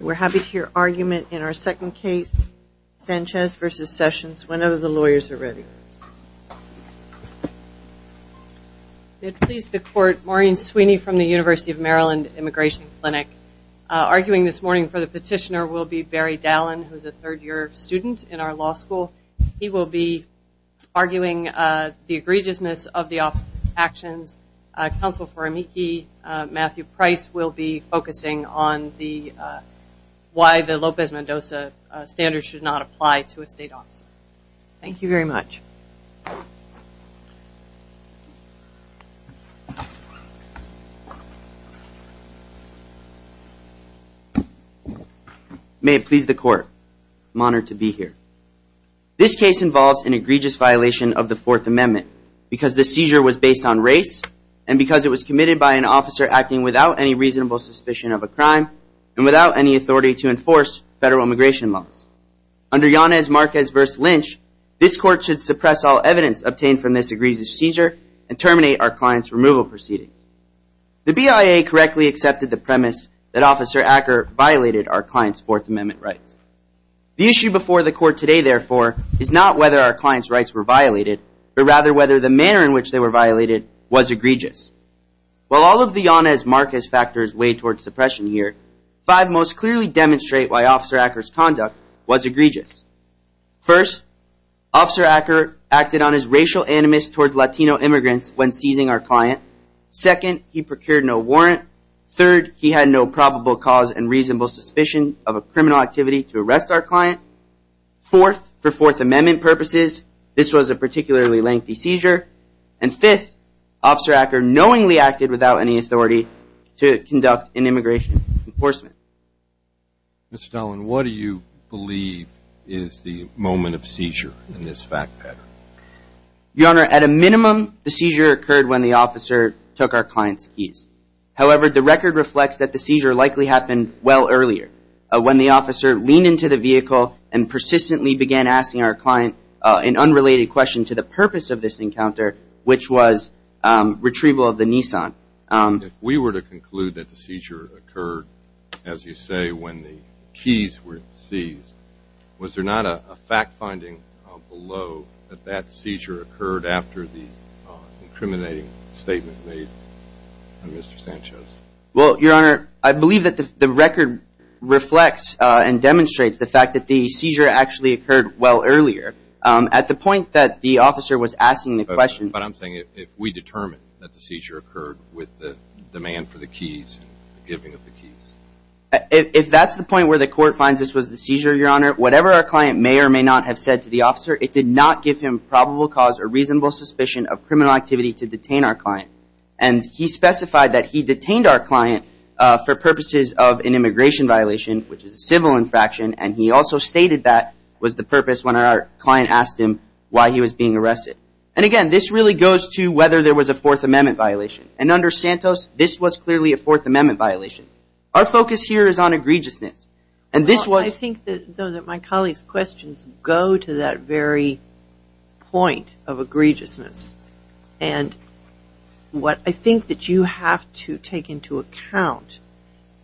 We're happy to hear argument in our second case, Sanchez v. Sessions, whenever the lawyers are ready. We have pleased the court, Maureen Sweeney from the University of Maryland Immigration Clinic. Arguing this morning for the petitioner will be Barry Dallin, who is a third-year student in our law school. He will be arguing the egregiousness of the actions. Counsel for Amiki Matthew Price will be focusing on why the Lopez Mendoza standards should not apply to a state officer. Thank you very much. May it please the court, I'm honored to be here. This case involves an egregious violation of the Fourth Amendment because the seizure was based on race and because it was committed by an officer acting without any reasonable suspicion of a crime and without any authority to enforce federal immigration laws. Under Yanez Marquez v. Lynch, this court should suppress all evidence obtained from this egregious seizure and terminate our client's removal proceedings. The BIA correctly accepted the premise that Officer Acker violated our client's Fourth Amendment rights. The issue before the court today, therefore, is not whether our client's rights were violated, but rather whether the manner in which they were violated was egregious. While all of the Yanez Marquez factors weigh towards suppression here, five most clearly demonstrate why Officer Acker's conduct was egregious. First, Officer Acker acted on his racial animus towards Latino immigrants when seizing our client. Second, he procured no warrant. Third, he had no probable cause and reasonable suspicion of a criminal activity to arrest our client. Fourth, for Fourth Amendment purposes, this was a particularly lengthy seizure. And fifth, Officer Acker knowingly acted without any authority to conduct an immigration enforcement. Mr. Dallin, what do you believe is the moment of seizure in this fact pattern? Your Honor, at a minimum, the seizure occurred when the officer took our client's keys. However, the record reflects that the seizure likely happened well earlier, when the officer leaned into the vehicle and persistently began asking our client an unrelated question to the purpose of this encounter, which was retrieval of the Nissan. If we were to conclude that the seizure occurred, as you say, when the keys were seized, was there not a fact finding below that that seizure occurred after the incriminating statement made by Mr. Sanchez? Well, Your Honor, I believe that the record reflects and demonstrates the fact that the seizure actually occurred well earlier. At the point that the officer was asking the question. But I'm saying if we determine that the seizure occurred with the demand for the keys, the giving of the keys. If that's the point where the court finds this was the seizure, Your Honor, whatever our client may or may not have said to the officer, it did not give him probable cause or reasonable suspicion of criminal activity to detain our client. And he specified that he detained our client for purposes of an immigration violation, which is a civil infraction. And he also stated that was the purpose when our client asked him why he was being arrested. And again, this really goes to whether there was a Fourth Amendment violation. And under Santos, this was clearly a Fourth Amendment violation. Our focus here is on egregiousness. And this was. I think that my colleague's questions go to that very point of egregiousness. And what I think that you have to take into account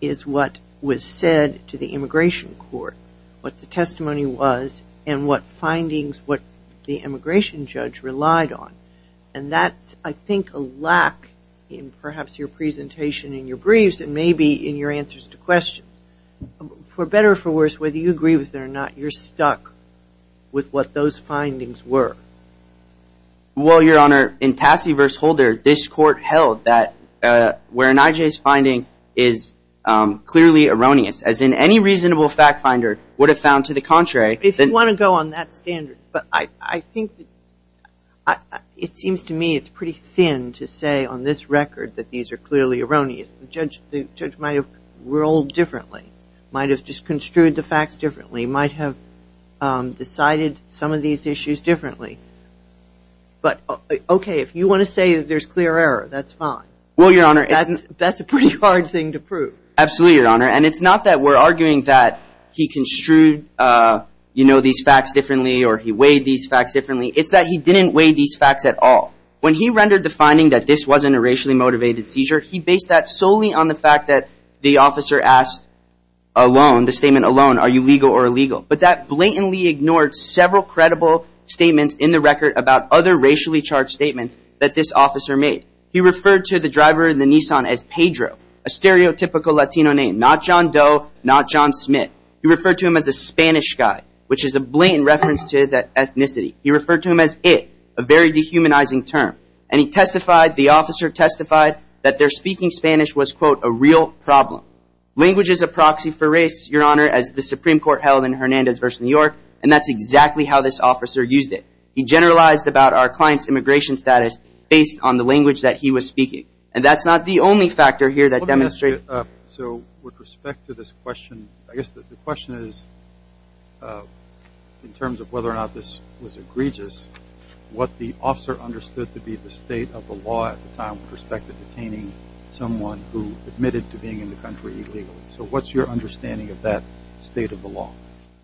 is what was said to the immigration court, what the testimony was, and what findings what the immigration judge relied on. And that's, I think, a lack in perhaps your presentation and your briefs and maybe in your answers to questions. For better or for worse, whether you agree with it or not, you're stuck with what those findings were. Well, Your Honor, in Tassie v. Holder, this court held that where an IJ's finding is clearly erroneous, as in any reasonable fact finder would have found to the contrary. If you want to go on that standard. But I think it seems to me it's pretty thin to say on this record that these are clearly erroneous. The judge might have ruled differently, might have just construed the facts differently, might have decided some of these issues differently. But OK, if you want to say there's clear error, that's fine. Well, Your Honor. That's a pretty hard thing to prove. Absolutely, Your Honor. And it's not that we're arguing that he construed, you know, these facts differently or he weighed these facts differently. It's that he didn't weigh these facts at all. When he rendered the finding that this wasn't a racially motivated seizure, he based that solely on the fact that the officer asked alone, the statement alone, are you legal or illegal. But that blatantly ignored several credible statements in the record about other racially charged statements that this officer made. He referred to the driver in the Nissan as Pedro, a stereotypical Latino name. Not John Doe, not John Smith. He referred to him as a Spanish guy, which is a blatant reference to that ethnicity. He referred to him as it, a very dehumanizing term. And he testified, the officer testified, that their speaking Spanish was, quote, a real problem. Language is a proxy for race, Your Honor, as the Supreme Court held in Hernandez v. New York, and that's exactly how this officer used it. He generalized about our client's immigration status based on the language that he was speaking. And that's not the only factor here that demonstrated. So with respect to this question, I guess the question is, in terms of whether or not this was egregious, what the officer understood to be the state of the law at the time with respect to detaining someone who admitted to being in the country illegally. So what's your understanding of that state of the law?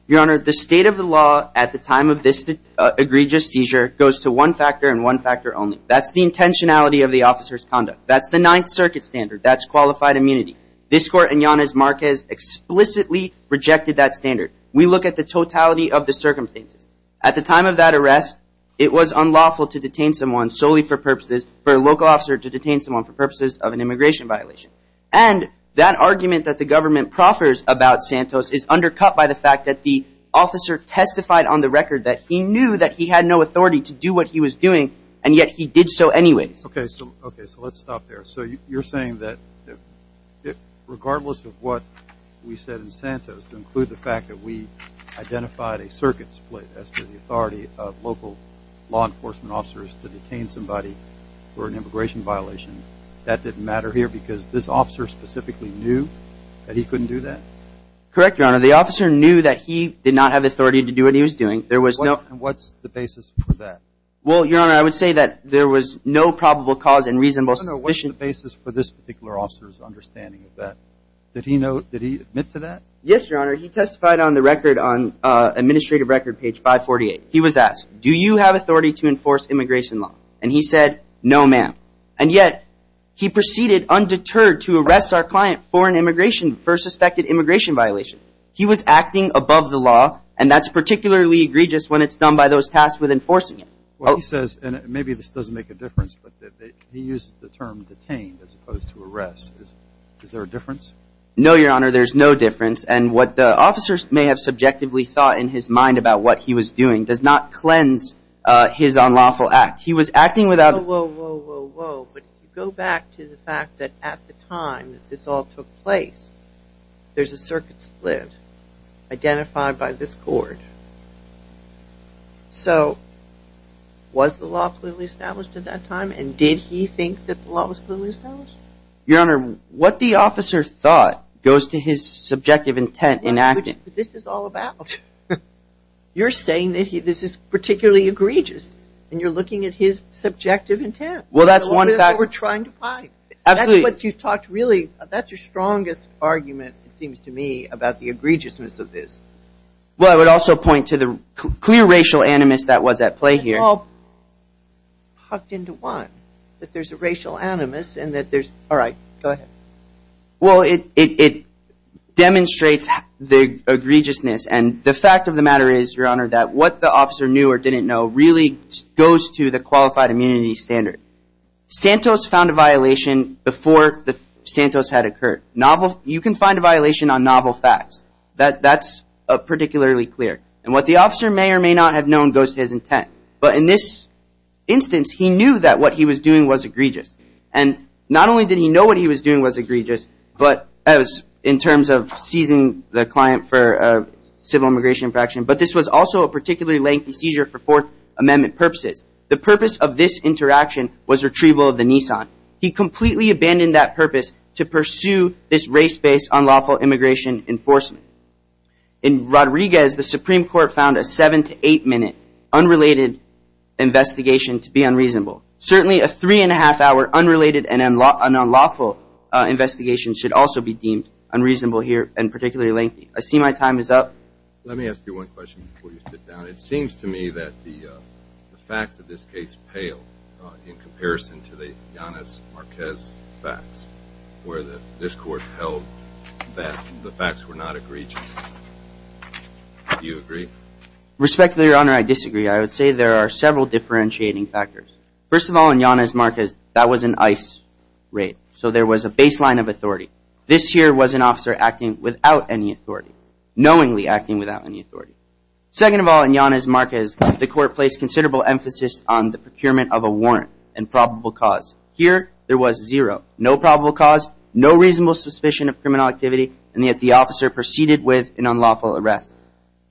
Your Honor, the state of the law at the time of this egregious seizure goes to one factor and one factor only. That's the intentionality of the officer's conduct. That's the Ninth Circuit standard. That's qualified immunity. This Court and Yanez Marquez explicitly rejected that standard. We look at the totality of the circumstances. At the time of that arrest, it was unlawful to detain someone solely for purposes, for a local officer to detain someone for purposes of an immigration violation. And that argument that the government proffers about Santos is undercut by the fact that the officer testified on the record that he knew that he had no authority to do what he was doing, and yet he did so anyways. Okay, so let's stop there. So you're saying that regardless of what we said in Santos, to include the fact that we identified a circuit split as to the authority of local law enforcement officers to detain somebody for an immigration violation, that didn't matter here because this officer specifically knew that he couldn't do that? Correct, Your Honor. The officer knew that he did not have authority to do what he was doing. There was no – And what's the basis for that? Well, Your Honor, I would say that there was no probable cause and reasonable – I don't know what's the basis for this particular officer's understanding of that. Did he know – did he admit to that? Yes, Your Honor. He testified on the record on administrative record page 548. He was asked, do you have authority to enforce immigration law? And he said, no, ma'am. And yet he proceeded undeterred to arrest our client for an immigration – for a suspected immigration violation. He was acting above the law, and that's particularly egregious when it's done by those tasked with enforcing it. Well, he says – and maybe this doesn't make a difference, but he used the term detained as opposed to arrest. Is there a difference? No, Your Honor, there's no difference. And what the officers may have subjectively thought in his mind about what he was doing does not cleanse his unlawful act. He was acting without – Whoa, whoa, whoa, whoa, whoa. But go back to the fact that at the time that this all took place, there's a circuit split identified by this court. So was the law clearly established at that time, and did he think that the law was clearly established? Your Honor, what the officer thought goes to his subjective intent in acting. But this is all about – you're saying that this is particularly egregious, and you're looking at his subjective intent. Well, that's one – That's what we're trying to find. Absolutely. That's what you've talked really – that's your strongest argument, it seems to me, about the egregiousness of this. Well, I would also point to the clear racial animus that was at play here. It's all hucked into one, that there's a racial animus and that there's – all right, go ahead. Well, it demonstrates the egregiousness, and the fact of the matter is, Your Honor, that what the officer knew or didn't know really goes to the qualified immunity standard. Santos found a violation before Santos had occurred. You can find a violation on novel facts. That's particularly clear. And what the officer may or may not have known goes to his intent. But in this instance, he knew that what he was doing was egregious. And not only did he know what he was doing was egregious in terms of seizing the client for civil immigration infraction, but this was also a particularly lengthy seizure for Fourth Amendment purposes. The purpose of this interaction was retrieval of the Nissan. He completely abandoned that purpose to pursue this race-based unlawful immigration enforcement. In Rodriguez, the Supreme Court found a seven- to eight-minute unrelated investigation to be unreasonable. Certainly, a three-and-a-half-hour unrelated and unlawful investigation should also be deemed unreasonable here and particularly lengthy. I see my time is up. Let me ask you one question before you sit down. It seems to me that the facts of this case pale in comparison to the Yanez-Marquez facts, where this Court held that the facts were not egregious. Do you agree? Respectfully, Your Honor, I disagree. I would say there are several differentiating factors. First of all, in Yanez-Marquez, that was an ICE raid, so there was a baseline of authority. This here was an officer acting without any authority, knowingly acting without any authority. Second of all, in Yanez-Marquez, the Court placed considerable emphasis on the procurement of a warrant and probable cause. Here, there was zero, no probable cause, no reasonable suspicion of criminal activity, and yet the officer proceeded with an unlawful arrest.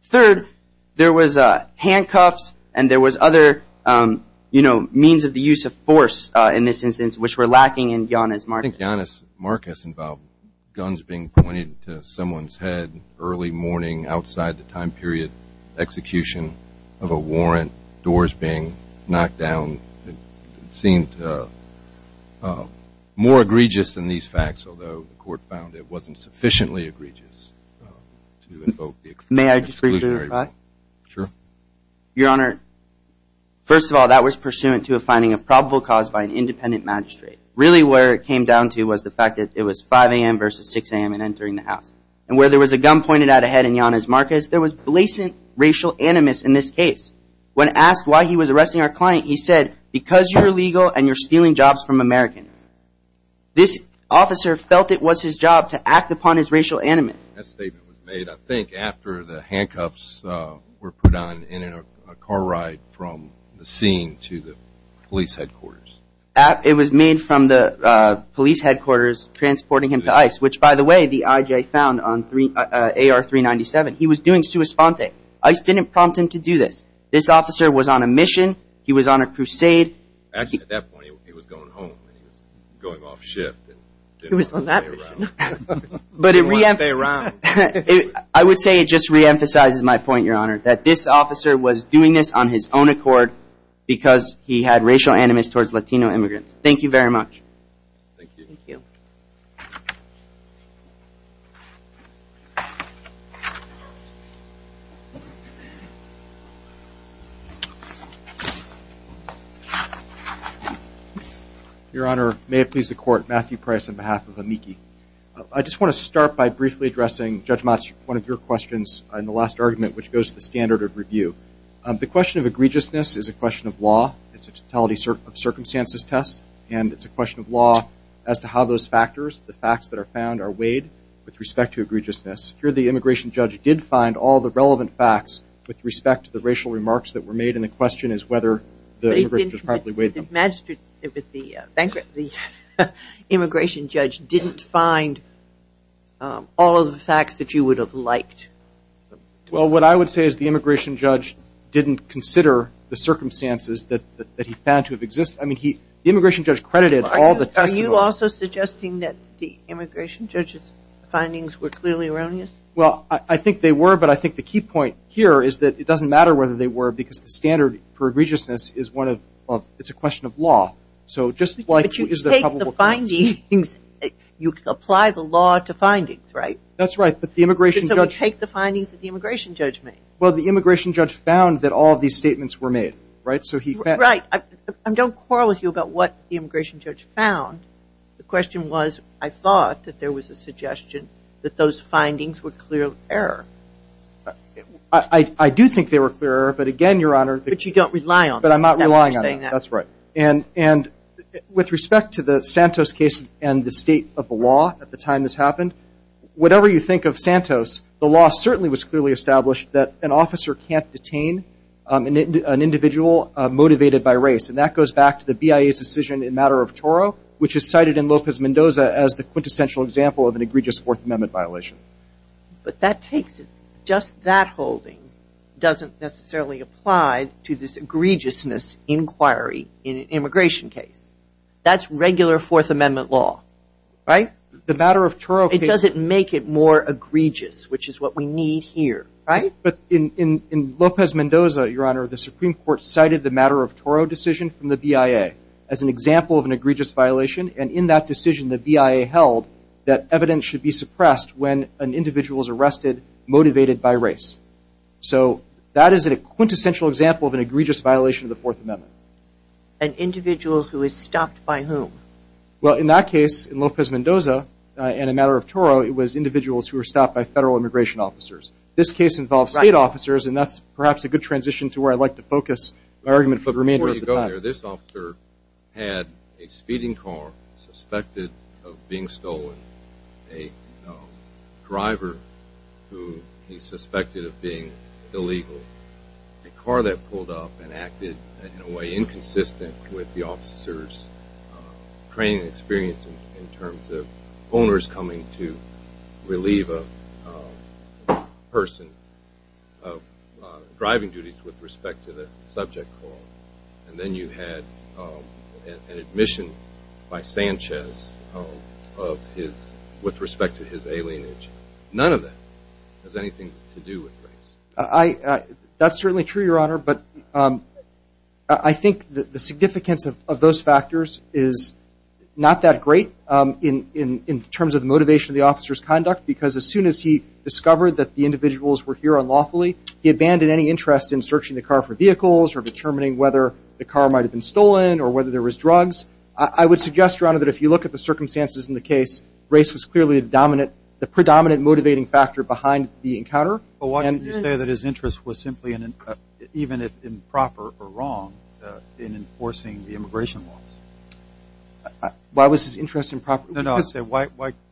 Third, there was handcuffs and there was other means of the use of force in this instance, which were lacking in Yanez-Marquez. I think Yanez-Marquez involved guns being pointed to someone's head early morning outside the time period of execution of a warrant, doors being knocked down. It seemed more egregious than these facts, although the Court found it wasn't sufficiently egregious to invoke the exclusionary rule. May I disagree to that? Sure. Your Honor, first of all, that was pursuant to a finding of probable cause by an independent magistrate. Really where it came down to was the fact that it was 5 a.m. versus 6 a.m. and entering the house. And where there was a gun pointed at a head in Yanez-Marquez, there was blatant racial animus in this case. When asked why he was arresting our client, he said, because you're illegal and you're stealing jobs from Americans. This officer felt it was his job to act upon his racial animus. That statement was made, I think, after the handcuffs were put on in a car ride from the scene to the police headquarters. It was made from the police headquarters transporting him to ICE, which, by the way, the I.J. found on AR-397. He was doing sua sponte. ICE didn't prompt him to do this. This officer was on a mission. He was on a crusade. Actually, at that point, he was going home. He was going off shift. He was on that mission. He didn't want to stay around. I would say it just reemphasizes my point, Your Honor, that this officer was doing this on his own accord because he had racial animus towards Latino immigrants. Thank you very much. Thank you. Thank you. Your Honor, may it please the Court, Matthew Price on behalf of AMICI. I just want to start by briefly addressing, Judge Mats, one of your questions in the last argument, which goes to the standard of review. The question of egregiousness is a question of law. It's a totality of circumstances test, and it's a question of law as to how those factors, the facts that are found, are weighed with respect to egregiousness. Here the immigration judge did find all the relevant facts with respect to the racial remarks that were made, and the question is whether the immigration judge properly weighed them. The immigration judge didn't find all of the facts that you would have liked. Well, what I would say is the immigration judge didn't consider the circumstances that he found to have existed. I mean, the immigration judge credited all the tests. Are you also suggesting that the immigration judge's findings were clearly erroneous? Well, I think they were, but I think the key point here is that it doesn't matter whether they were because the standard for egregiousness is a question of law. But you take the findings, you apply the law to findings, right? That's right. So we take the findings that the immigration judge made. Well, the immigration judge found that all of these statements were made, right? Right. And don't quarrel with you about what the immigration judge found. The question was I thought that there was a suggestion that those findings were clear of error. I do think they were clear of error, but again, Your Honor. But you don't rely on them. But I'm not relying on them. That's right. And with respect to the Santos case and the state of the law at the time this happened, whatever you think of Santos, the law certainly was clearly established that an officer can't detain an individual motivated by race. And that goes back to the BIA's decision in matter of Toro, which is cited in Lopez Mendoza as the quintessential example of an egregious Fourth Amendment violation. But that takes it. Just that holding doesn't necessarily apply to this egregiousness inquiry in an immigration case. That's regular Fourth Amendment law, right? It doesn't make it more egregious, which is what we need here, right? But in Lopez Mendoza, Your Honor, the Supreme Court cited the matter of Toro decision from the BIA as an example of an egregious violation, and in that decision the BIA held that evidence should be suppressed when an individual is arrested motivated by race. So that is a quintessential example of an egregious violation of the Fourth Amendment. An individual who is stopped by whom? Well, in that case, in Lopez Mendoza, in a matter of Toro, it was individuals who were stopped by federal immigration officers. This case involves state officers, and that's perhaps a good transition to where I'd like to focus my argument for the remainder of the time. Before you go there, this officer had a speeding car suspected of being stolen, a driver who he suspected of being illegal, a car that pulled up and acted in a way inconsistent with the officer's training and experience in terms of owners coming to relieve a person of driving duties with respect to the subject call, and then you had an admission by Sanchez with respect to his alienation. None of that has anything to do with race. That's certainly true, Your Honor, but I think the significance of those factors is not that great in terms of the motivation of the officer's conduct because as soon as he discovered that the individuals were here unlawfully, he abandoned any interest in searching the car for vehicles or determining whether the car might have been stolen or whether there was drugs. I would suggest, Your Honor, that if you look at the circumstances in the case, race was clearly the predominant motivating factor behind the encounter. Well, why didn't you say that his interest was simply, even if improper or wrong, in enforcing the immigration laws? Why was his interest improper? No, no.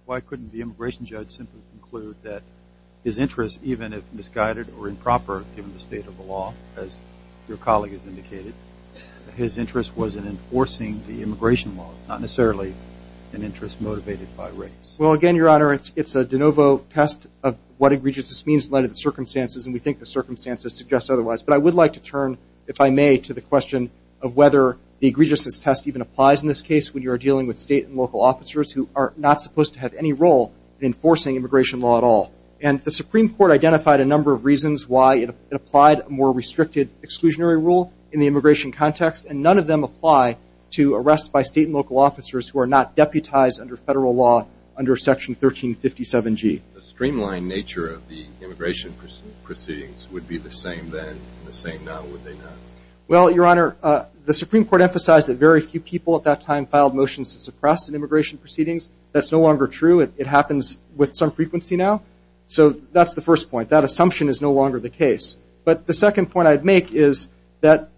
Why couldn't the immigration judge simply conclude that his interest, even if misguided or improper given the state of the law, as your colleague has indicated, his interest was in enforcing the immigration laws, not necessarily an interest motivated by race? Well, again, Your Honor, it's a de novo test of what egregiousness means in light of the circumstances, and we think the circumstances suggest otherwise. But I would like to turn, if I may, to the question of whether the egregiousness test even applies in this case when you are dealing with state and local officers who are not supposed to have any role in enforcing immigration law at all. And the Supreme Court identified a number of reasons why it applied a more restricted exclusionary rule in the immigration context, and none of them apply to arrests by state and local officers who are not deputized under federal law under Section 1357G. The streamlined nature of the immigration proceedings would be the same then and the same now, would they not? Well, Your Honor, the Supreme Court emphasized that very few people at that time filed motions to suppress an immigration proceedings. That's no longer true. It happens with some frequency now. So that's the first point. That assumption is no longer the case. But the second point I'd make is that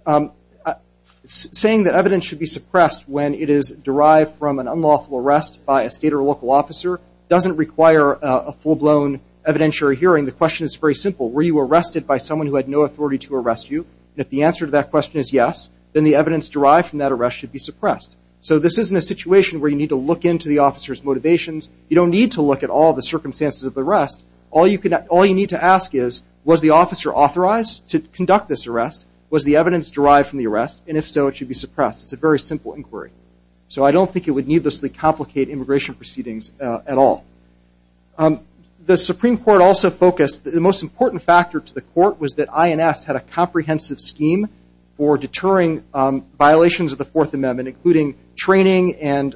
saying that evidence should be suppressed when it is derived from an unlawful arrest by a state or local officer doesn't require a full-blown evidentiary hearing. The question is very simple. Were you arrested by someone who had no authority to arrest you? And if the answer to that question is yes, then the evidence derived from that arrest should be suppressed. So this isn't a situation where you need to look into the officer's motivations. You don't need to look at all the circumstances of the arrest. All you need to ask is, was the officer authorized to conduct this arrest? Was the evidence derived from the arrest? And if so, it should be suppressed. It's a very simple inquiry. So I don't think it would needlessly complicate immigration proceedings at all. The Supreme Court also focused. The most important factor to the court was that INS had a comprehensive scheme for deterring violations of the Fourth Amendment, including training and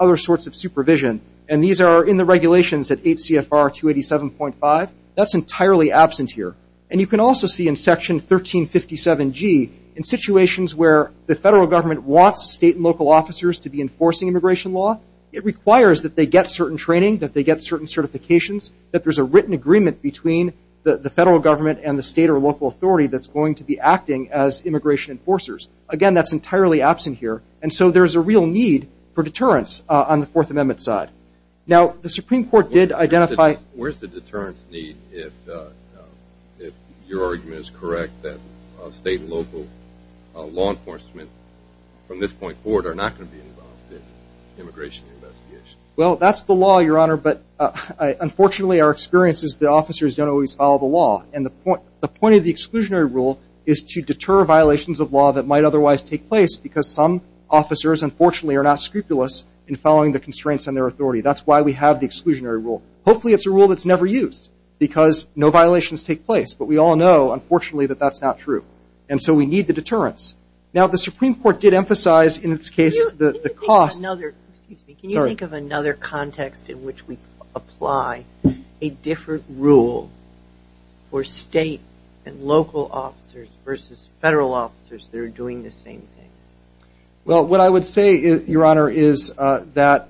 other sorts of supervision. And these are in the regulations at 8 CFR 287.5. That's entirely absent here. And you can also see in Section 1357G, in situations where the federal government wants state and local officers to be enforcing immigration law, it requires that they get certain training, that they get certain certifications, that there's a written agreement between the federal government and the state or local authority that's going to be acting as immigration enforcers. Again, that's entirely absent here. And so there's a real need for deterrence on the Fourth Amendment side. Now, the Supreme Court did identify. Where's the deterrence need if your argument is correct that state and local law enforcement from this point forward are not going to be involved in immigration investigations? Well, that's the law, Your Honor, but unfortunately our experience is the officers don't always follow the law. And the point of the exclusionary rule is to deter violations of law that might otherwise take place because some officers, unfortunately, are not scrupulous in following the constraints on their authority. That's why we have the exclusionary rule. Hopefully it's a rule that's never used because no violations take place, but we all know, unfortunately, that that's not true. And so we need the deterrence. Now, the Supreme Court did emphasize in its case the cost. Can you think of another context in which we apply a different rule for state and local officers versus federal officers that are doing the same thing? Well, what I would say, Your Honor, is that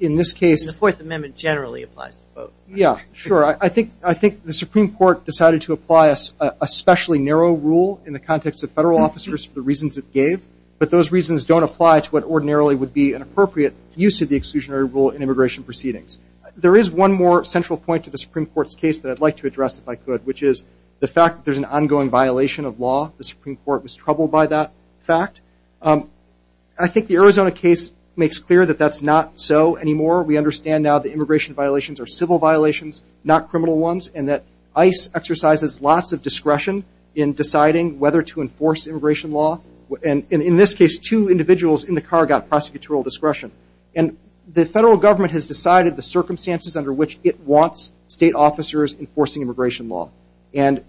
in this case— The Fourth Amendment generally applies to both. Yeah, sure. I think the Supreme Court decided to apply a specially narrow rule in the context of federal officers for the reasons it gave, but those reasons don't apply to what ordinarily would be an appropriate use of the exclusionary rule in immigration proceedings. There is one more central point to the Supreme Court's case that I'd like to address if I could, which is the fact that there's an ongoing violation of law. The Supreme Court was troubled by that fact. I think the Arizona case makes clear that that's not so anymore. We understand now that immigration violations are civil violations, not criminal ones, and that ICE exercises lots of discretion in deciding whether to enforce immigration law. And in this case, two individuals in the car got prosecutorial discretion. And the federal government has decided the circumstances under which it wants state officers enforcing immigration law. And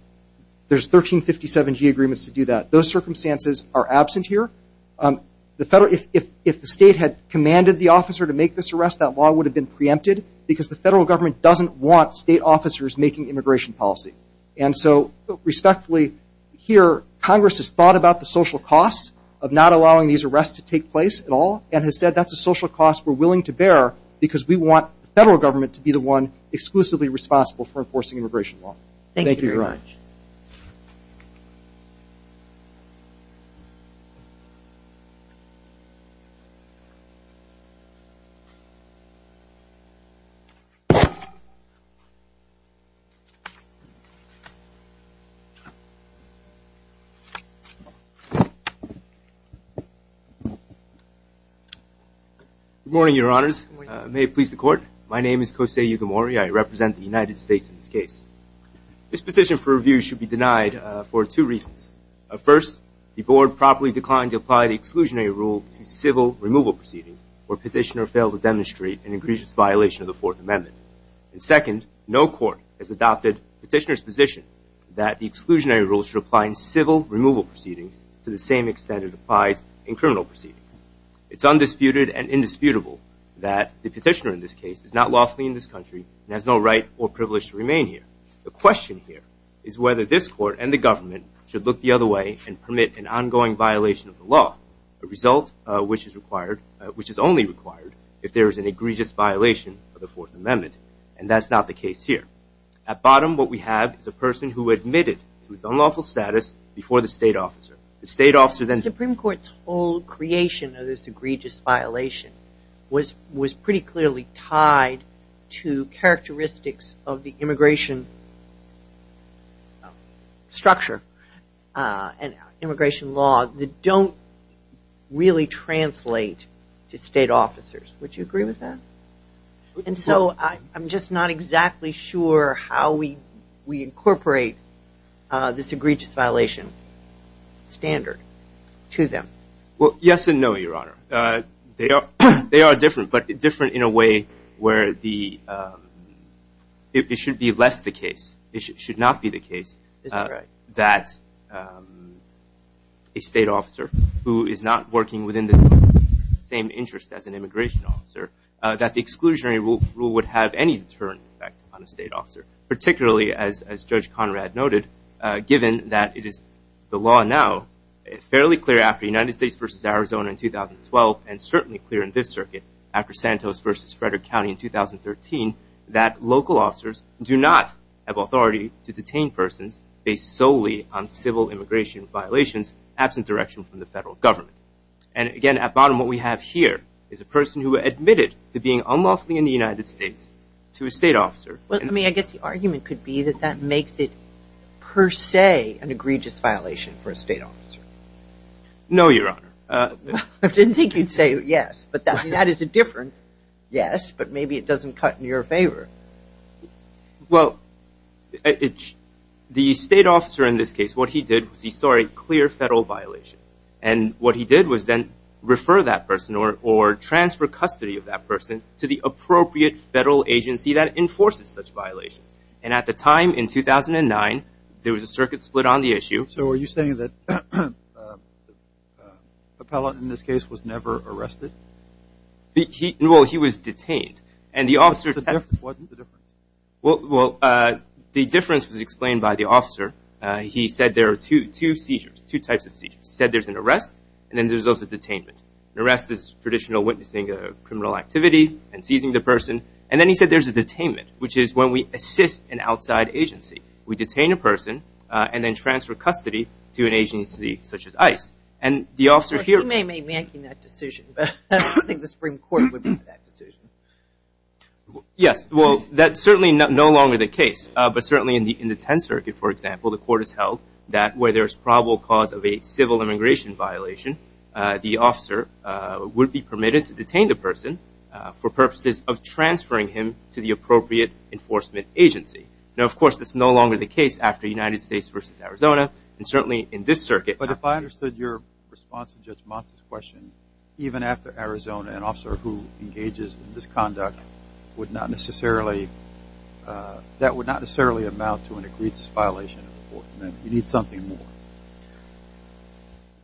there's 1357G agreements to do that. Those circumstances are absent here. If the state had commanded the officer to make this arrest, that law would have been preempted because the federal government doesn't want state officers making immigration policy. And so, respectfully, here Congress has thought about the social cost of not allowing these arrests to take place at all and has said that's a social cost we're willing to bear because we want the federal government to be the one exclusively responsible for enforcing immigration law. Thank you, Your Honor. Thank you, Your Honor. Good morning, Your Honors. May it please the Court. My name is Kosei Yugimori. I represent the United States in this case. This position for review should be denied for two reasons. First, the Board properly declined to apply the exclusionary rule to civil removal proceedings where a petitioner failed to demonstrate an increased violation of the Fourth Amendment. And second, no court has adopted the petitioner's position that the exclusionary rule should apply in civil removal proceedings to the same extent it applies in criminal proceedings. It's undisputed and indisputable that the petitioner in this case is not lawfully in this country and has no right or privilege to remain here. The question here is whether this Court and the government should look the other way and permit an ongoing violation of the law, a result which is only required if there is an egregious violation of the Fourth Amendment. And that's not the case here. At bottom, what we have is a person who admitted to his unlawful status before the state officer. The Supreme Court's whole creation of this egregious violation was pretty clearly tied to characteristics of the immigration structure and immigration law that don't really translate to state officers. Would you agree with that? And so I'm just not exactly sure how we incorporate this egregious violation standard to them. Well, yes and no, Your Honor. They are different, but different in a way where it should be less the case. It should not be the case that a state officer who is not working within the same interest as an immigration officer, that the exclusionary rule would have any deterrent effect on a state officer, particularly as Judge Conrad noted, given that it is the law now, fairly clear after the United States versus Arizona in 2012, and certainly clear in this circuit after Santos versus Frederick County in 2013, that local officers do not have authority to detain persons based solely on civil immigration violations absent direction from the federal government. And, again, at bottom what we have here is a person who admitted to being unlawfully in the United States to a state officer. Well, I mean, I guess the argument could be that that makes it per se an egregious violation for a state officer. No, Your Honor. I didn't think you'd say yes, but that is a difference, yes, but maybe it doesn't cut in your favor. Well, the state officer in this case, what he did was he saw a clear federal violation, and what he did was then refer that person or transfer custody of that person to the appropriate federal agency that enforces such violations. And at the time, in 2009, there was a circuit split on the issue. So are you saying that the appellant in this case was never arrested? Well, he was detained. Wasn't the difference? Well, the difference was explained by the officer. He said there are two seizures, two types of seizures. He said there's an arrest, and then there's also detainment. An arrest is traditional witnessing a criminal activity and seizing the person. And then he said there's a detainment, which is when we assist an outside agency. We detain a person and then transfer custody to an agency such as ICE. And the officer here – Well, he may be making that decision, but I don't think the Supreme Court would make that decision. Yes, well, that's certainly no longer the case. But certainly in the Tenth Circuit, for example, the court has held that where there's probable cause of a civil immigration violation, the officer would be permitted to detain the person for purposes of transferring him to the appropriate enforcement agency. Now, of course, that's no longer the case after United States v. Arizona, and certainly in this circuit. But if I understood your response to Judge Monson's question, even after Arizona, an officer who engages in this conduct would not necessarily – that would not necessarily amount to an egregious violation of the court. You need something more.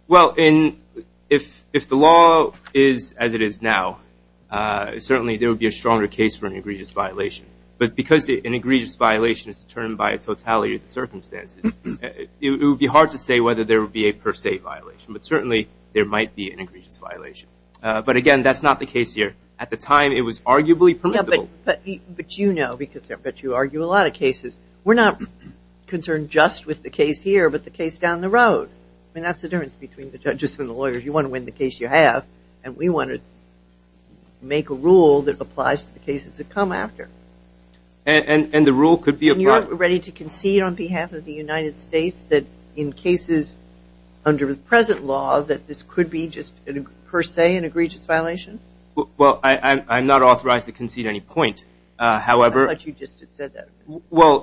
Well, if the law is as it is now, certainly there would be a stronger case for an egregious violation. But because an egregious violation is determined by a totality of the circumstances, it would be hard to say whether there would be a per se violation. But certainly there might be an egregious violation. But, again, that's not the case here. At the time, it was arguably permissible. But you know, because I bet you argue a lot of cases, we're not concerned just with the case here but the case down the road. I mean, that's the difference between the judges and the lawyers. You want to win the case you have, and we want to make a rule that applies to the cases that come after. And the rule could be applied. Are you ready to concede on behalf of the United States that in cases under the present law, that this could be just per se an egregious violation? Well, I'm not authorized to concede any point. I thought you just said that. Well,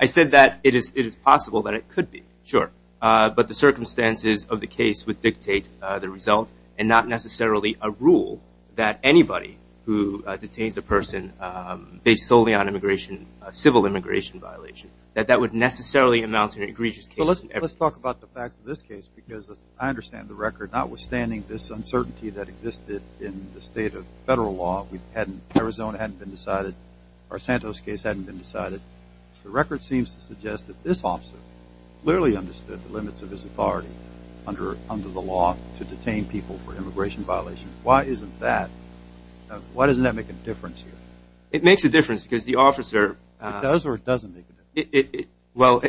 I said that it is possible that it could be, sure. But the circumstances of the case would dictate the result and not necessarily a rule that anybody who detains a person based solely on immigration, a civil immigration violation, that that would necessarily amount to an egregious case. Well, let's talk about the facts of this case because I understand the record. Notwithstanding this uncertainty that existed in the state of federal law, Arizona hadn't been decided, our Santos case hadn't been decided. The record seems to suggest that this officer clearly understood the limits of his authority under the law to detain people for immigration violations. Why isn't that? Why doesn't that make a difference here? It makes a difference because the officer... It does or it doesn't make a difference? Well,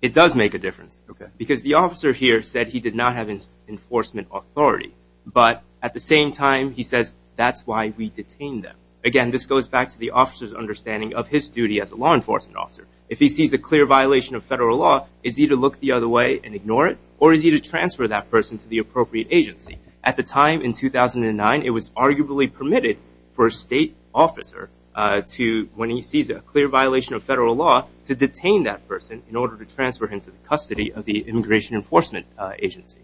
it does make a difference. Because the officer here said he did not have enforcement authority, but at the same time he says that's why we detained them. Again, this goes back to the officer's understanding of his duty as a law enforcement officer. If he sees a clear violation of federal law, is he to look the other way and ignore it or is he to transfer that person to the appropriate agency? At the time in 2009, it was arguably permitted for a state officer to, when he sees a clear violation of federal law, to detain that person in order to transfer him to the custody of the immigration enforcement agency.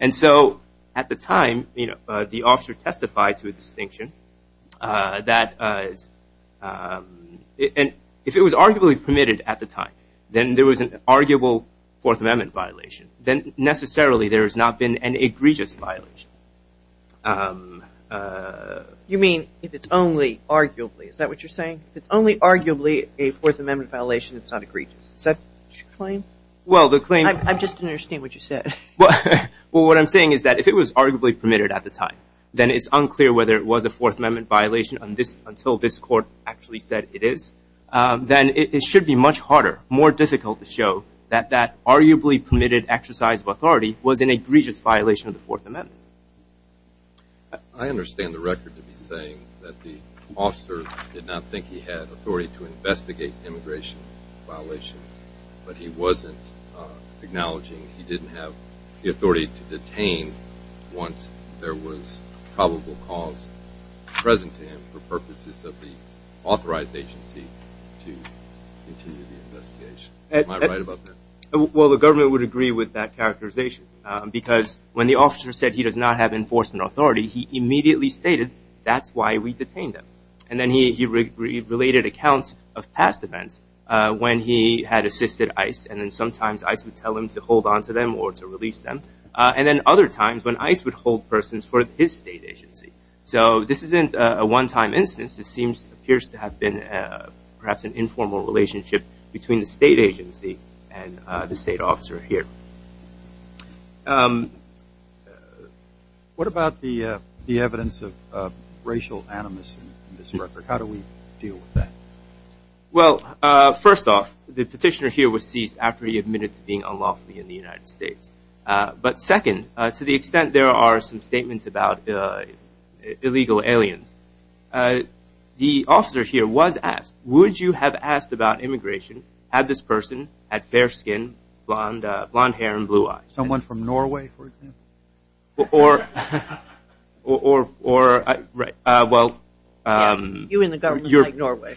And so at the time, the officer testified to a distinction that if it was arguably permitted at the time, then there was an arguable Fourth Amendment violation. Then necessarily there has not been an egregious violation. You mean if it's only arguably, is that what you're saying? If it's only arguably a Fourth Amendment violation, it's not egregious. Is that your claim? I just didn't understand what you said. Well, what I'm saying is that if it was arguably permitted at the time, then it's unclear whether it was a Fourth Amendment violation until this court actually said it is. Then it should be much harder, more difficult to show that that arguably permitted exercise of authority was an egregious violation of the Fourth Amendment. I understand the record to be saying that the officer did not think he had authority to investigate immigration violations, but he wasn't acknowledging he didn't have the authority to detain once there was probable cause present to him for purposes of the authorized agency to continue the investigation. Am I right about that? Well, the government would agree with that characterization because when the officer said he does not have enforcement authority, he immediately stated that's why we detained him. Then he related accounts of past events when he had assisted ICE, and then sometimes ICE would tell him to hold on to them or to release them, and then other times when ICE would hold persons for his state agency. This isn't a one-time instance. This appears to have been perhaps an informal relationship between the state agency and the state officer here. What about the evidence of racial animus in this record? How do we deal with that? Well, first off, the petitioner here was seized after he admitted to being unlawfully in the United States. But second, to the extent there are some statements about illegal aliens, the officer here was asked, would you have asked about immigration, had this person had fair skin, blonde hair, and blue eyes? Someone from Norway, for example? Or, well... You and the government like Norway.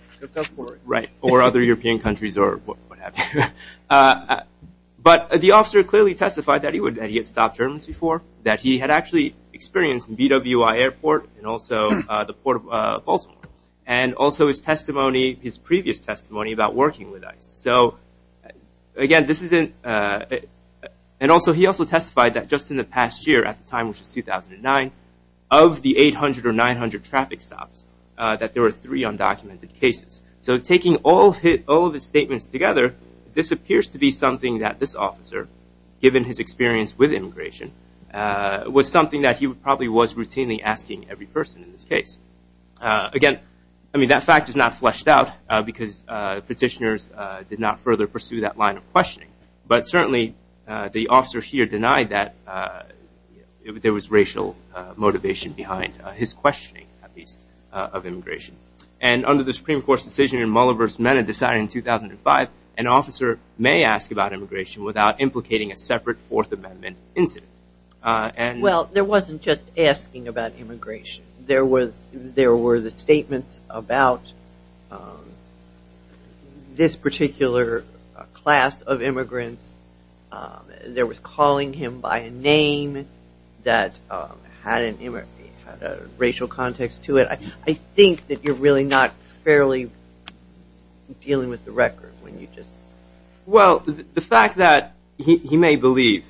Right, or other European countries or what have you. But the officer clearly testified that he had stopped Germans before, that he had actually experienced BWI Airport and also the Port of Baltimore, and also his testimony, his previous testimony about working with ICE. So, again, this isn't... And also he also testified that just in the past year at the time, which was 2009, of the 800 or 900 traffic stops, that there were three undocumented cases. So taking all of his statements together, this appears to be something that this officer, given his experience with immigration, was something that he probably was routinely asking every person in this case. Again, I mean, that fact is not fleshed out, because petitioners did not further pursue that line of questioning. But certainly the officer here denied that there was racial motivation behind his questioning, at least, of immigration. And under the Supreme Court's decision in Mulliver v. Menna decided in 2005, an officer may ask about immigration without implicating a separate Fourth Amendment incident. Well, there wasn't just asking about immigration. There were the statements about this particular class of immigrants. There was calling him by a name that had a racial context to it. I think that you're really not fairly dealing with the record when you just... Well, the fact that he may believe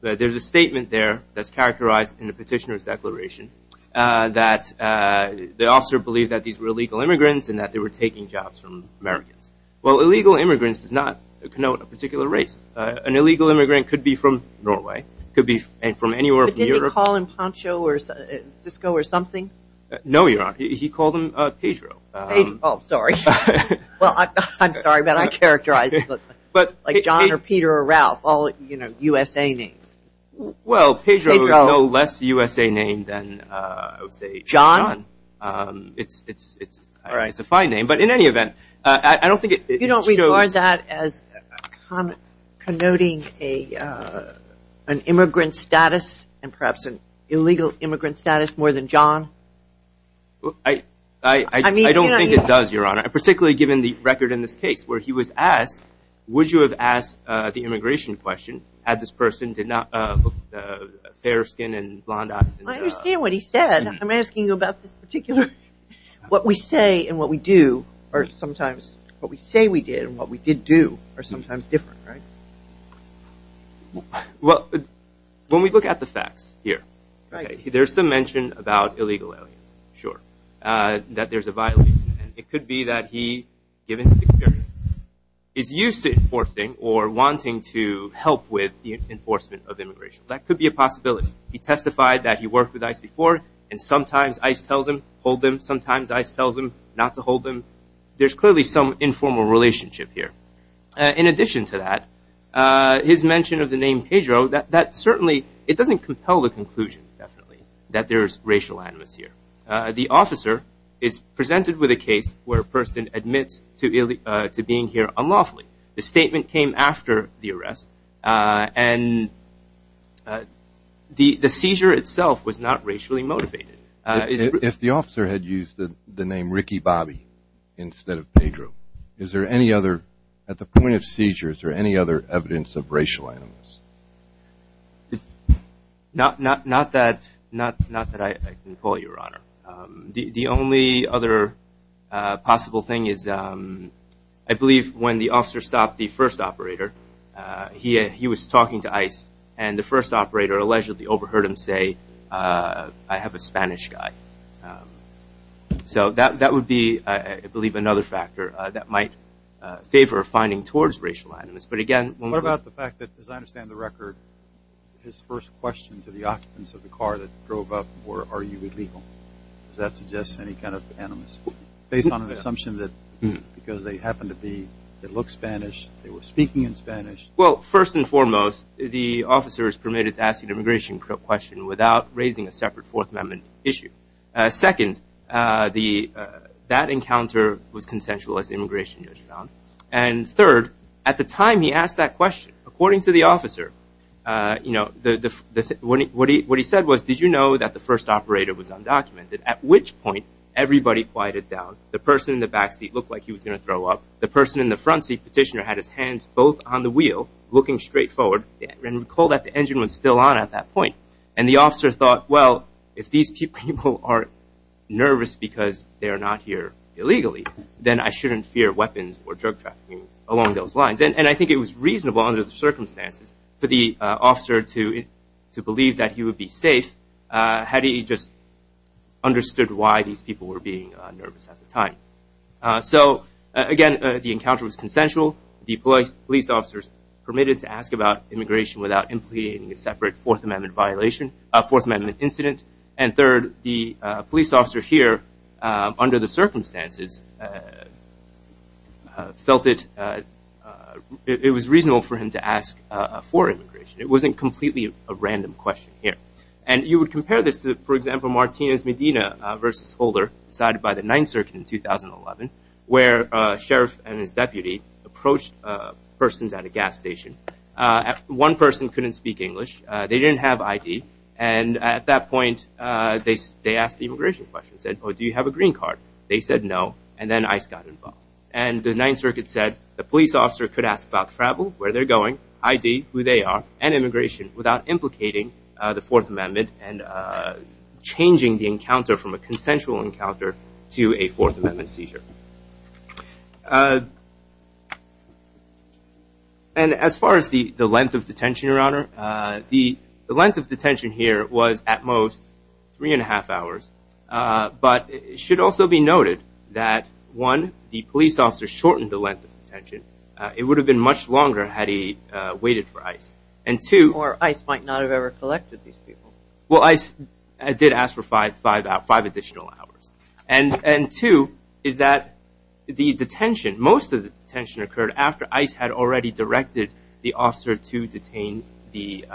that there's a statement there that's characterized in the petitioner's declaration, that the officer believed that these were illegal immigrants and that they were taking jobs from Americans. Well, illegal immigrants does not connote a particular race. An illegal immigrant could be from Norway, could be from anywhere in Europe. But didn't he call him Poncho or Cisco or something? No, Your Honor. He called him Pedro. Pedro. Oh, sorry. Well, I'm sorry, but I characterize it like John or Peter or Ralph, all, you know, USA names. Well, Pedro is no less USA named than, I would say, John. John? It's a fine name. But in any event, I don't think it shows... You don't regard that as connoting an immigrant status and perhaps an illegal immigrant status more than John? I don't think it does, Your Honor, particularly given the record in this case where he was asked, would you have asked the immigration question had this person did not have fair skin and blonde eyes? I understand what he said. I'm asking you about this particular... What we say and what we do are sometimes... What we say we did and what we did do are sometimes different, right? Well, when we look at the facts here, there's some mention about illegal aliens, sure, that there's a violation. It could be that he, given the experience, is used to enforcing or wanting to help with the enforcement of immigration. That could be a possibility. He testified that he worked with ICE before, and sometimes ICE tells him, hold them. Sometimes ICE tells him not to hold them. There's clearly some informal relationship here. In addition to that, his mention of the name Pedro, that certainly doesn't compel the conclusion, definitely, that there's racial animus here. The officer is presented with a case where a person admits to being here unlawfully. The statement came after the arrest, and the seizure itself was not racially motivated. If the officer had used the name Ricky Bobby instead of Pedro, is there any other, at the point of seizure, is there any other evidence of racial animus? Not that I can pull, Your Honor. The only other possible thing is I believe when the officer stopped the first operator, he was talking to ICE, and the first operator allegedly overheard him say, I have a Spanish guy. So that would be, I believe, another factor that might favor finding towards racial animus. But again, when we look at the fact that, as I understand the record, his first question to the occupants of the car that drove up were, are you illegal? Does that suggest any kind of animus? Based on an assumption that because they happen to be, they look Spanish, they were speaking in Spanish. Well, first and foremost, the officer is permitted to ask an immigration question without raising a separate Fourth Amendment issue. Second, that encounter was consensual as immigration was found. And third, at the time he asked that question, according to the officer, what he said was, did you know that the first operator was undocumented? At which point, everybody quieted down. The person in the back seat looked like he was going to throw up. The person in the front seat, petitioner, had his hands both on the wheel, looking straight forward. And recall that the engine was still on at that point. And the officer thought, well, if these people are nervous because they are not here illegally, then I shouldn't fear weapons or drug trafficking along those lines. And I think it was reasonable under the circumstances for the officer to believe that he would be safe, had he just understood why these people were being nervous at the time. So again, the encounter was consensual. The police officers permitted to ask about immigration without implicating a separate Fourth Amendment incident. And third, the police officer here, under the circumstances, felt it was reasonable for him to ask for immigration. It wasn't completely a random question here. And you would compare this to, for example, Martinez Medina v. Holder, decided by the Ninth Circuit in 2011, where a sheriff and his deputy approached persons at a gas station. One person couldn't speak English. They didn't have ID. And at that point, they asked the immigration question, said, oh, do you have a green card? They said no. And then ICE got involved. And the Ninth Circuit said the police officer could ask about travel, where they're going, ID, who they are, and immigration without implicating the Fourth Amendment and changing the encounter from a consensual encounter to a Fourth Amendment seizure. And as far as the length of detention, Your Honor, the length of detention here was, at most, three and a half hours. But it should also be noted that, one, the police officer shortened the length of detention. It would have been much longer had he waited for ICE. Or ICE might not have ever collected these people. Well, ICE did ask for five additional hours. And, two, is that the detention, most of the detention occurred after ICE had already directed the officer to detain the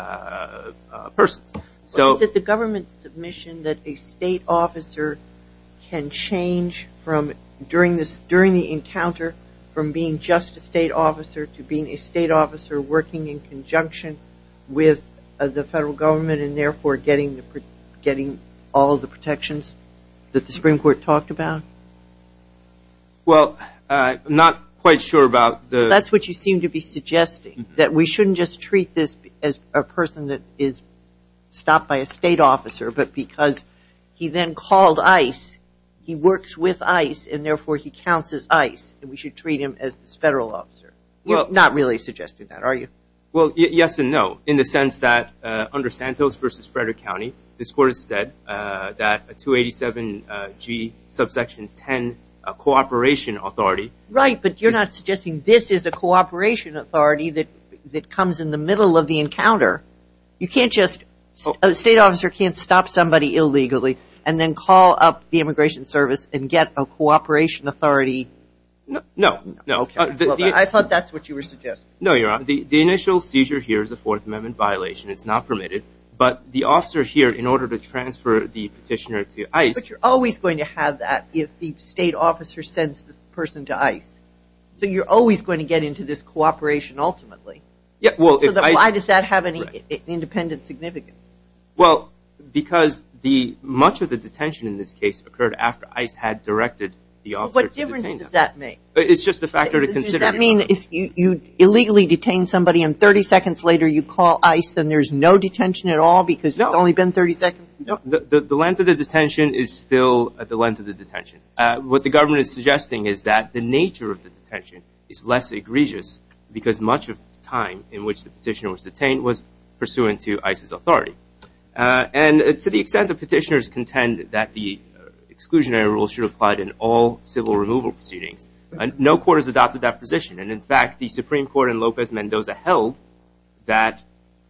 person. Is it the government's submission that a state officer can change from, during the encounter, from being just a state officer to being a state officer working in conjunction with the federal government and, therefore, getting all the protections that the Supreme Court talked about? Well, I'm not quite sure about the ‑‑ stopped by a state officer, but because he then called ICE, he works with ICE, and, therefore, he counts as ICE. And we should treat him as this federal officer. You're not really suggesting that, are you? Well, yes and no, in the sense that, under Santos v. Frederick County, this Court has said that a 287G subsection 10, a cooperation authority ‑‑ Right, but you're not suggesting this is a cooperation authority that comes in the middle of the encounter. You can't just ‑‑ a state officer can't stop somebody illegally and then call up the Immigration Service and get a cooperation authority. No, no. I thought that's what you were suggesting. No, you're on. The initial seizure here is a Fourth Amendment violation. It's not permitted. But the officer here, in order to transfer the petitioner to ICE ‑‑ But you're always going to have that if the state officer sends the person to ICE. So you're always going to get into this cooperation, ultimately. Why does that have any independent significance? Well, because much of the detention in this case occurred after ICE had directed the officer to detain them. What difference does that make? It's just a factor to consider. Does that mean if you illegally detain somebody and 30 seconds later you call ICE and there's no detention at all because it's only been 30 seconds? No. The length of the detention is still the length of the detention. What the government is suggesting is that the nature of the detention is less egregious because much of the time in which the petitioner was detained was pursuant to ICE's authority. And to the extent that petitioners contend that the exclusionary rule should apply in all civil removal proceedings, no court has adopted that position. And, in fact, the Supreme Court in Lopez Mendoza held that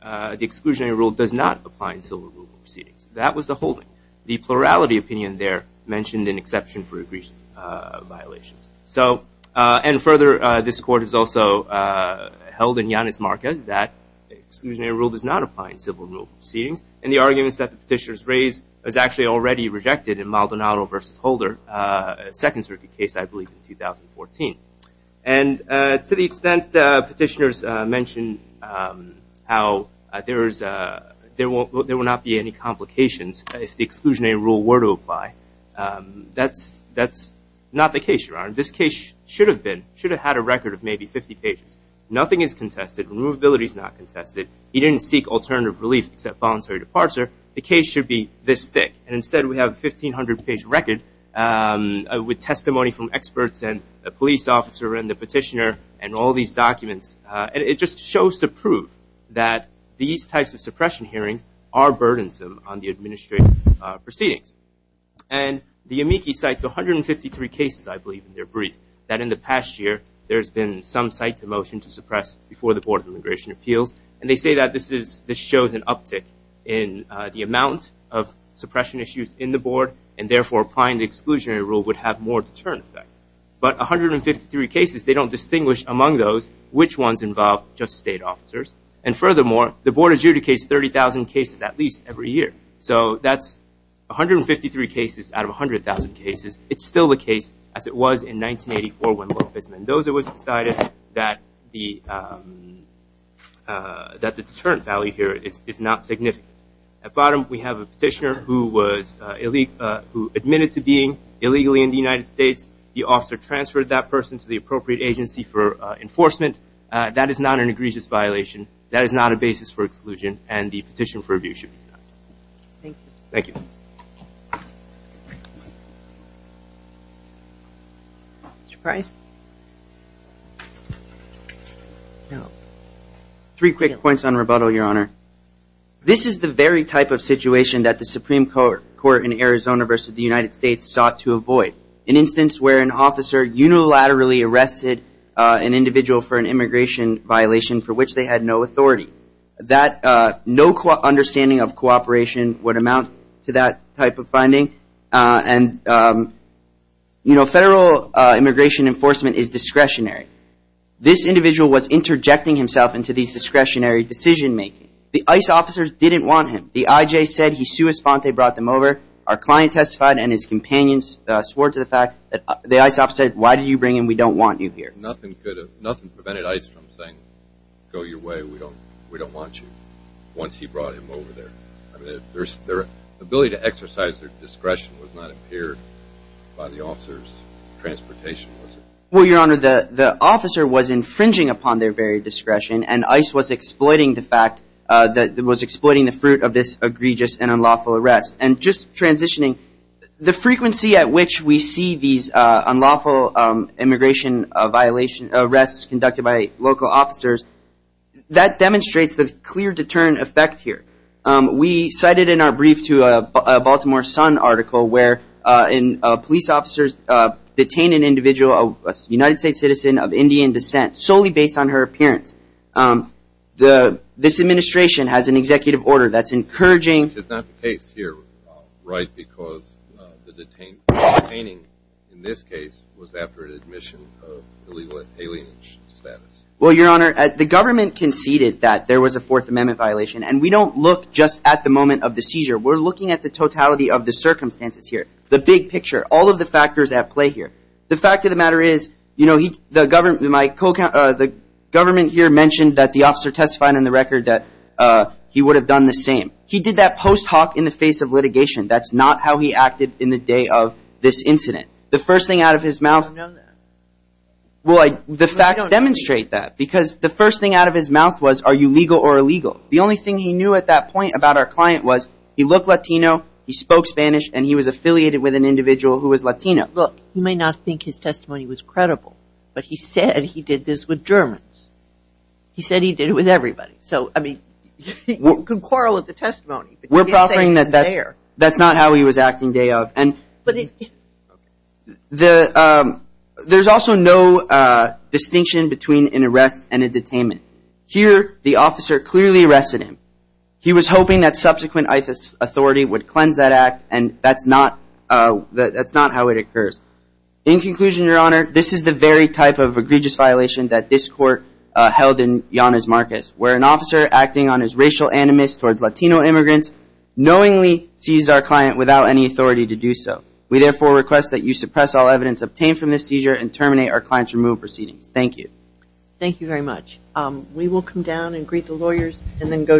the exclusionary rule does not apply in civil removal proceedings. That was the holding. The plurality opinion there mentioned an exception for egregious violations. And further, this court has also held in Yanis Marquez that the exclusionary rule does not apply in civil removal proceedings. And the arguments that the petitioners raised is actually already rejected in Maldonado v. Holder, a Second Circuit case, I believe, in 2014. And to the extent petitioners mention how there will not be any complications if the exclusionary rule were to apply, that's not the case, Your Honor. This case should have been, should have had a record of maybe 50 pages. Nothing is contested. Removability is not contested. He didn't seek alternative relief except voluntary departure. The case should be this thick. And instead we have a 1,500-page record with testimony from experts and a police officer and the petitioner and all these documents. And it just shows to prove that these types of suppression hearings are burdensome on the administrative proceedings. And the amici cite 153 cases, I believe, in their brief that in the past year there's been some cite to motion to suppress before the Board of Immigration Appeals. And they say that this shows an uptick in the amount of suppression issues in the board, and therefore applying the exclusionary rule would have more deterrent effect. But 153 cases, they don't distinguish among those which ones involve just state officers. And furthermore, the board adjudicates 30,000 cases at least every year. So that's 153 cases out of 100,000 cases. It's still the case as it was in 1984 when Lopez Mendoza was decided that the deterrent value here is not significant. At bottom we have a petitioner who was, who admitted to being illegally in the United States. The officer transferred that person to the appropriate agency for enforcement. That is not an egregious violation. That is not a basis for exclusion. And the petition for review should be denied. Thank you. Three quick points on rebuttal, Your Honor. This is the very type of situation that the Supreme Court in Arizona versus the United States sought to avoid. An instance where an officer unilaterally arrested an individual for an immigration violation for which they had no authority. That no understanding of cooperation would amount to that type of finding. And, you know, federal immigration enforcement is discretionary. This individual was interjecting himself into these discretionary decision-making. The ICE officers didn't want him. The IJ said he sui sponte brought them over. Our client testified and his companions swore to the fact that the ICE officer said, why did you bring him? We don't want you here. Nothing prevented ICE from saying, go your way. We don't want you. Once he brought him over there. Their ability to exercise their discretion was not impaired by the officer's transportation, was it? Well, Your Honor, the officer was infringing upon their very discretion. And ICE was exploiting the fact that it was exploiting the fruit of this egregious and unlawful arrest. And just transitioning, the frequency at which we see these unlawful immigration arrests conducted by local officers, that demonstrates the clear deterrent effect here. We cited in our brief to a Baltimore Sun article where police officers detain an individual, a United States citizen of Indian descent, solely based on her appearance. This administration has an executive order that's encouraging. Which is not the case here, right, because the detaining in this case was after an admission of illegal alien status. Well, Your Honor, the government conceded that there was a Fourth Amendment violation. And we don't look just at the moment of the seizure. We're looking at the totality of the circumstances here, the big picture, all of the factors at play here. The fact of the matter is, you know, the government, my co-counsel, the government here mentioned that the officer testified on the record that he would have done the same. He did that post hoc in the face of litigation. That's not how he acted in the day of this incident. The first thing out of his mouth... I don't know that. Well, the facts demonstrate that. Because the first thing out of his mouth was, are you legal or illegal? The only thing he knew at that point about our client was he looked Latino, he spoke Spanish, and he was affiliated with an individual who was Latino. Look, you may not think his testimony was credible, but he said he did this with Germans. He said he did it with everybody. So, I mean, you can quarrel with the testimony. We're proffering that that's not how he was acting day of. And there's also no distinction between an arrest and a detainment. Here, the officer clearly arrested him. He was hoping that subsequent authority would cleanse that act, and that's not how it occurs. In conclusion, Your Honor, this is the very type of egregious violation that this court held in Llanes, Marquez, where an officer acting on his racial animus towards Latino immigrants knowingly seized our client without any authority to do so. We therefore request that you suppress all evidence obtained from this seizure and terminate our client's removal proceedings. Thank you. Thank you very much. We will come down and greet the lawyers and then go directly to the next case.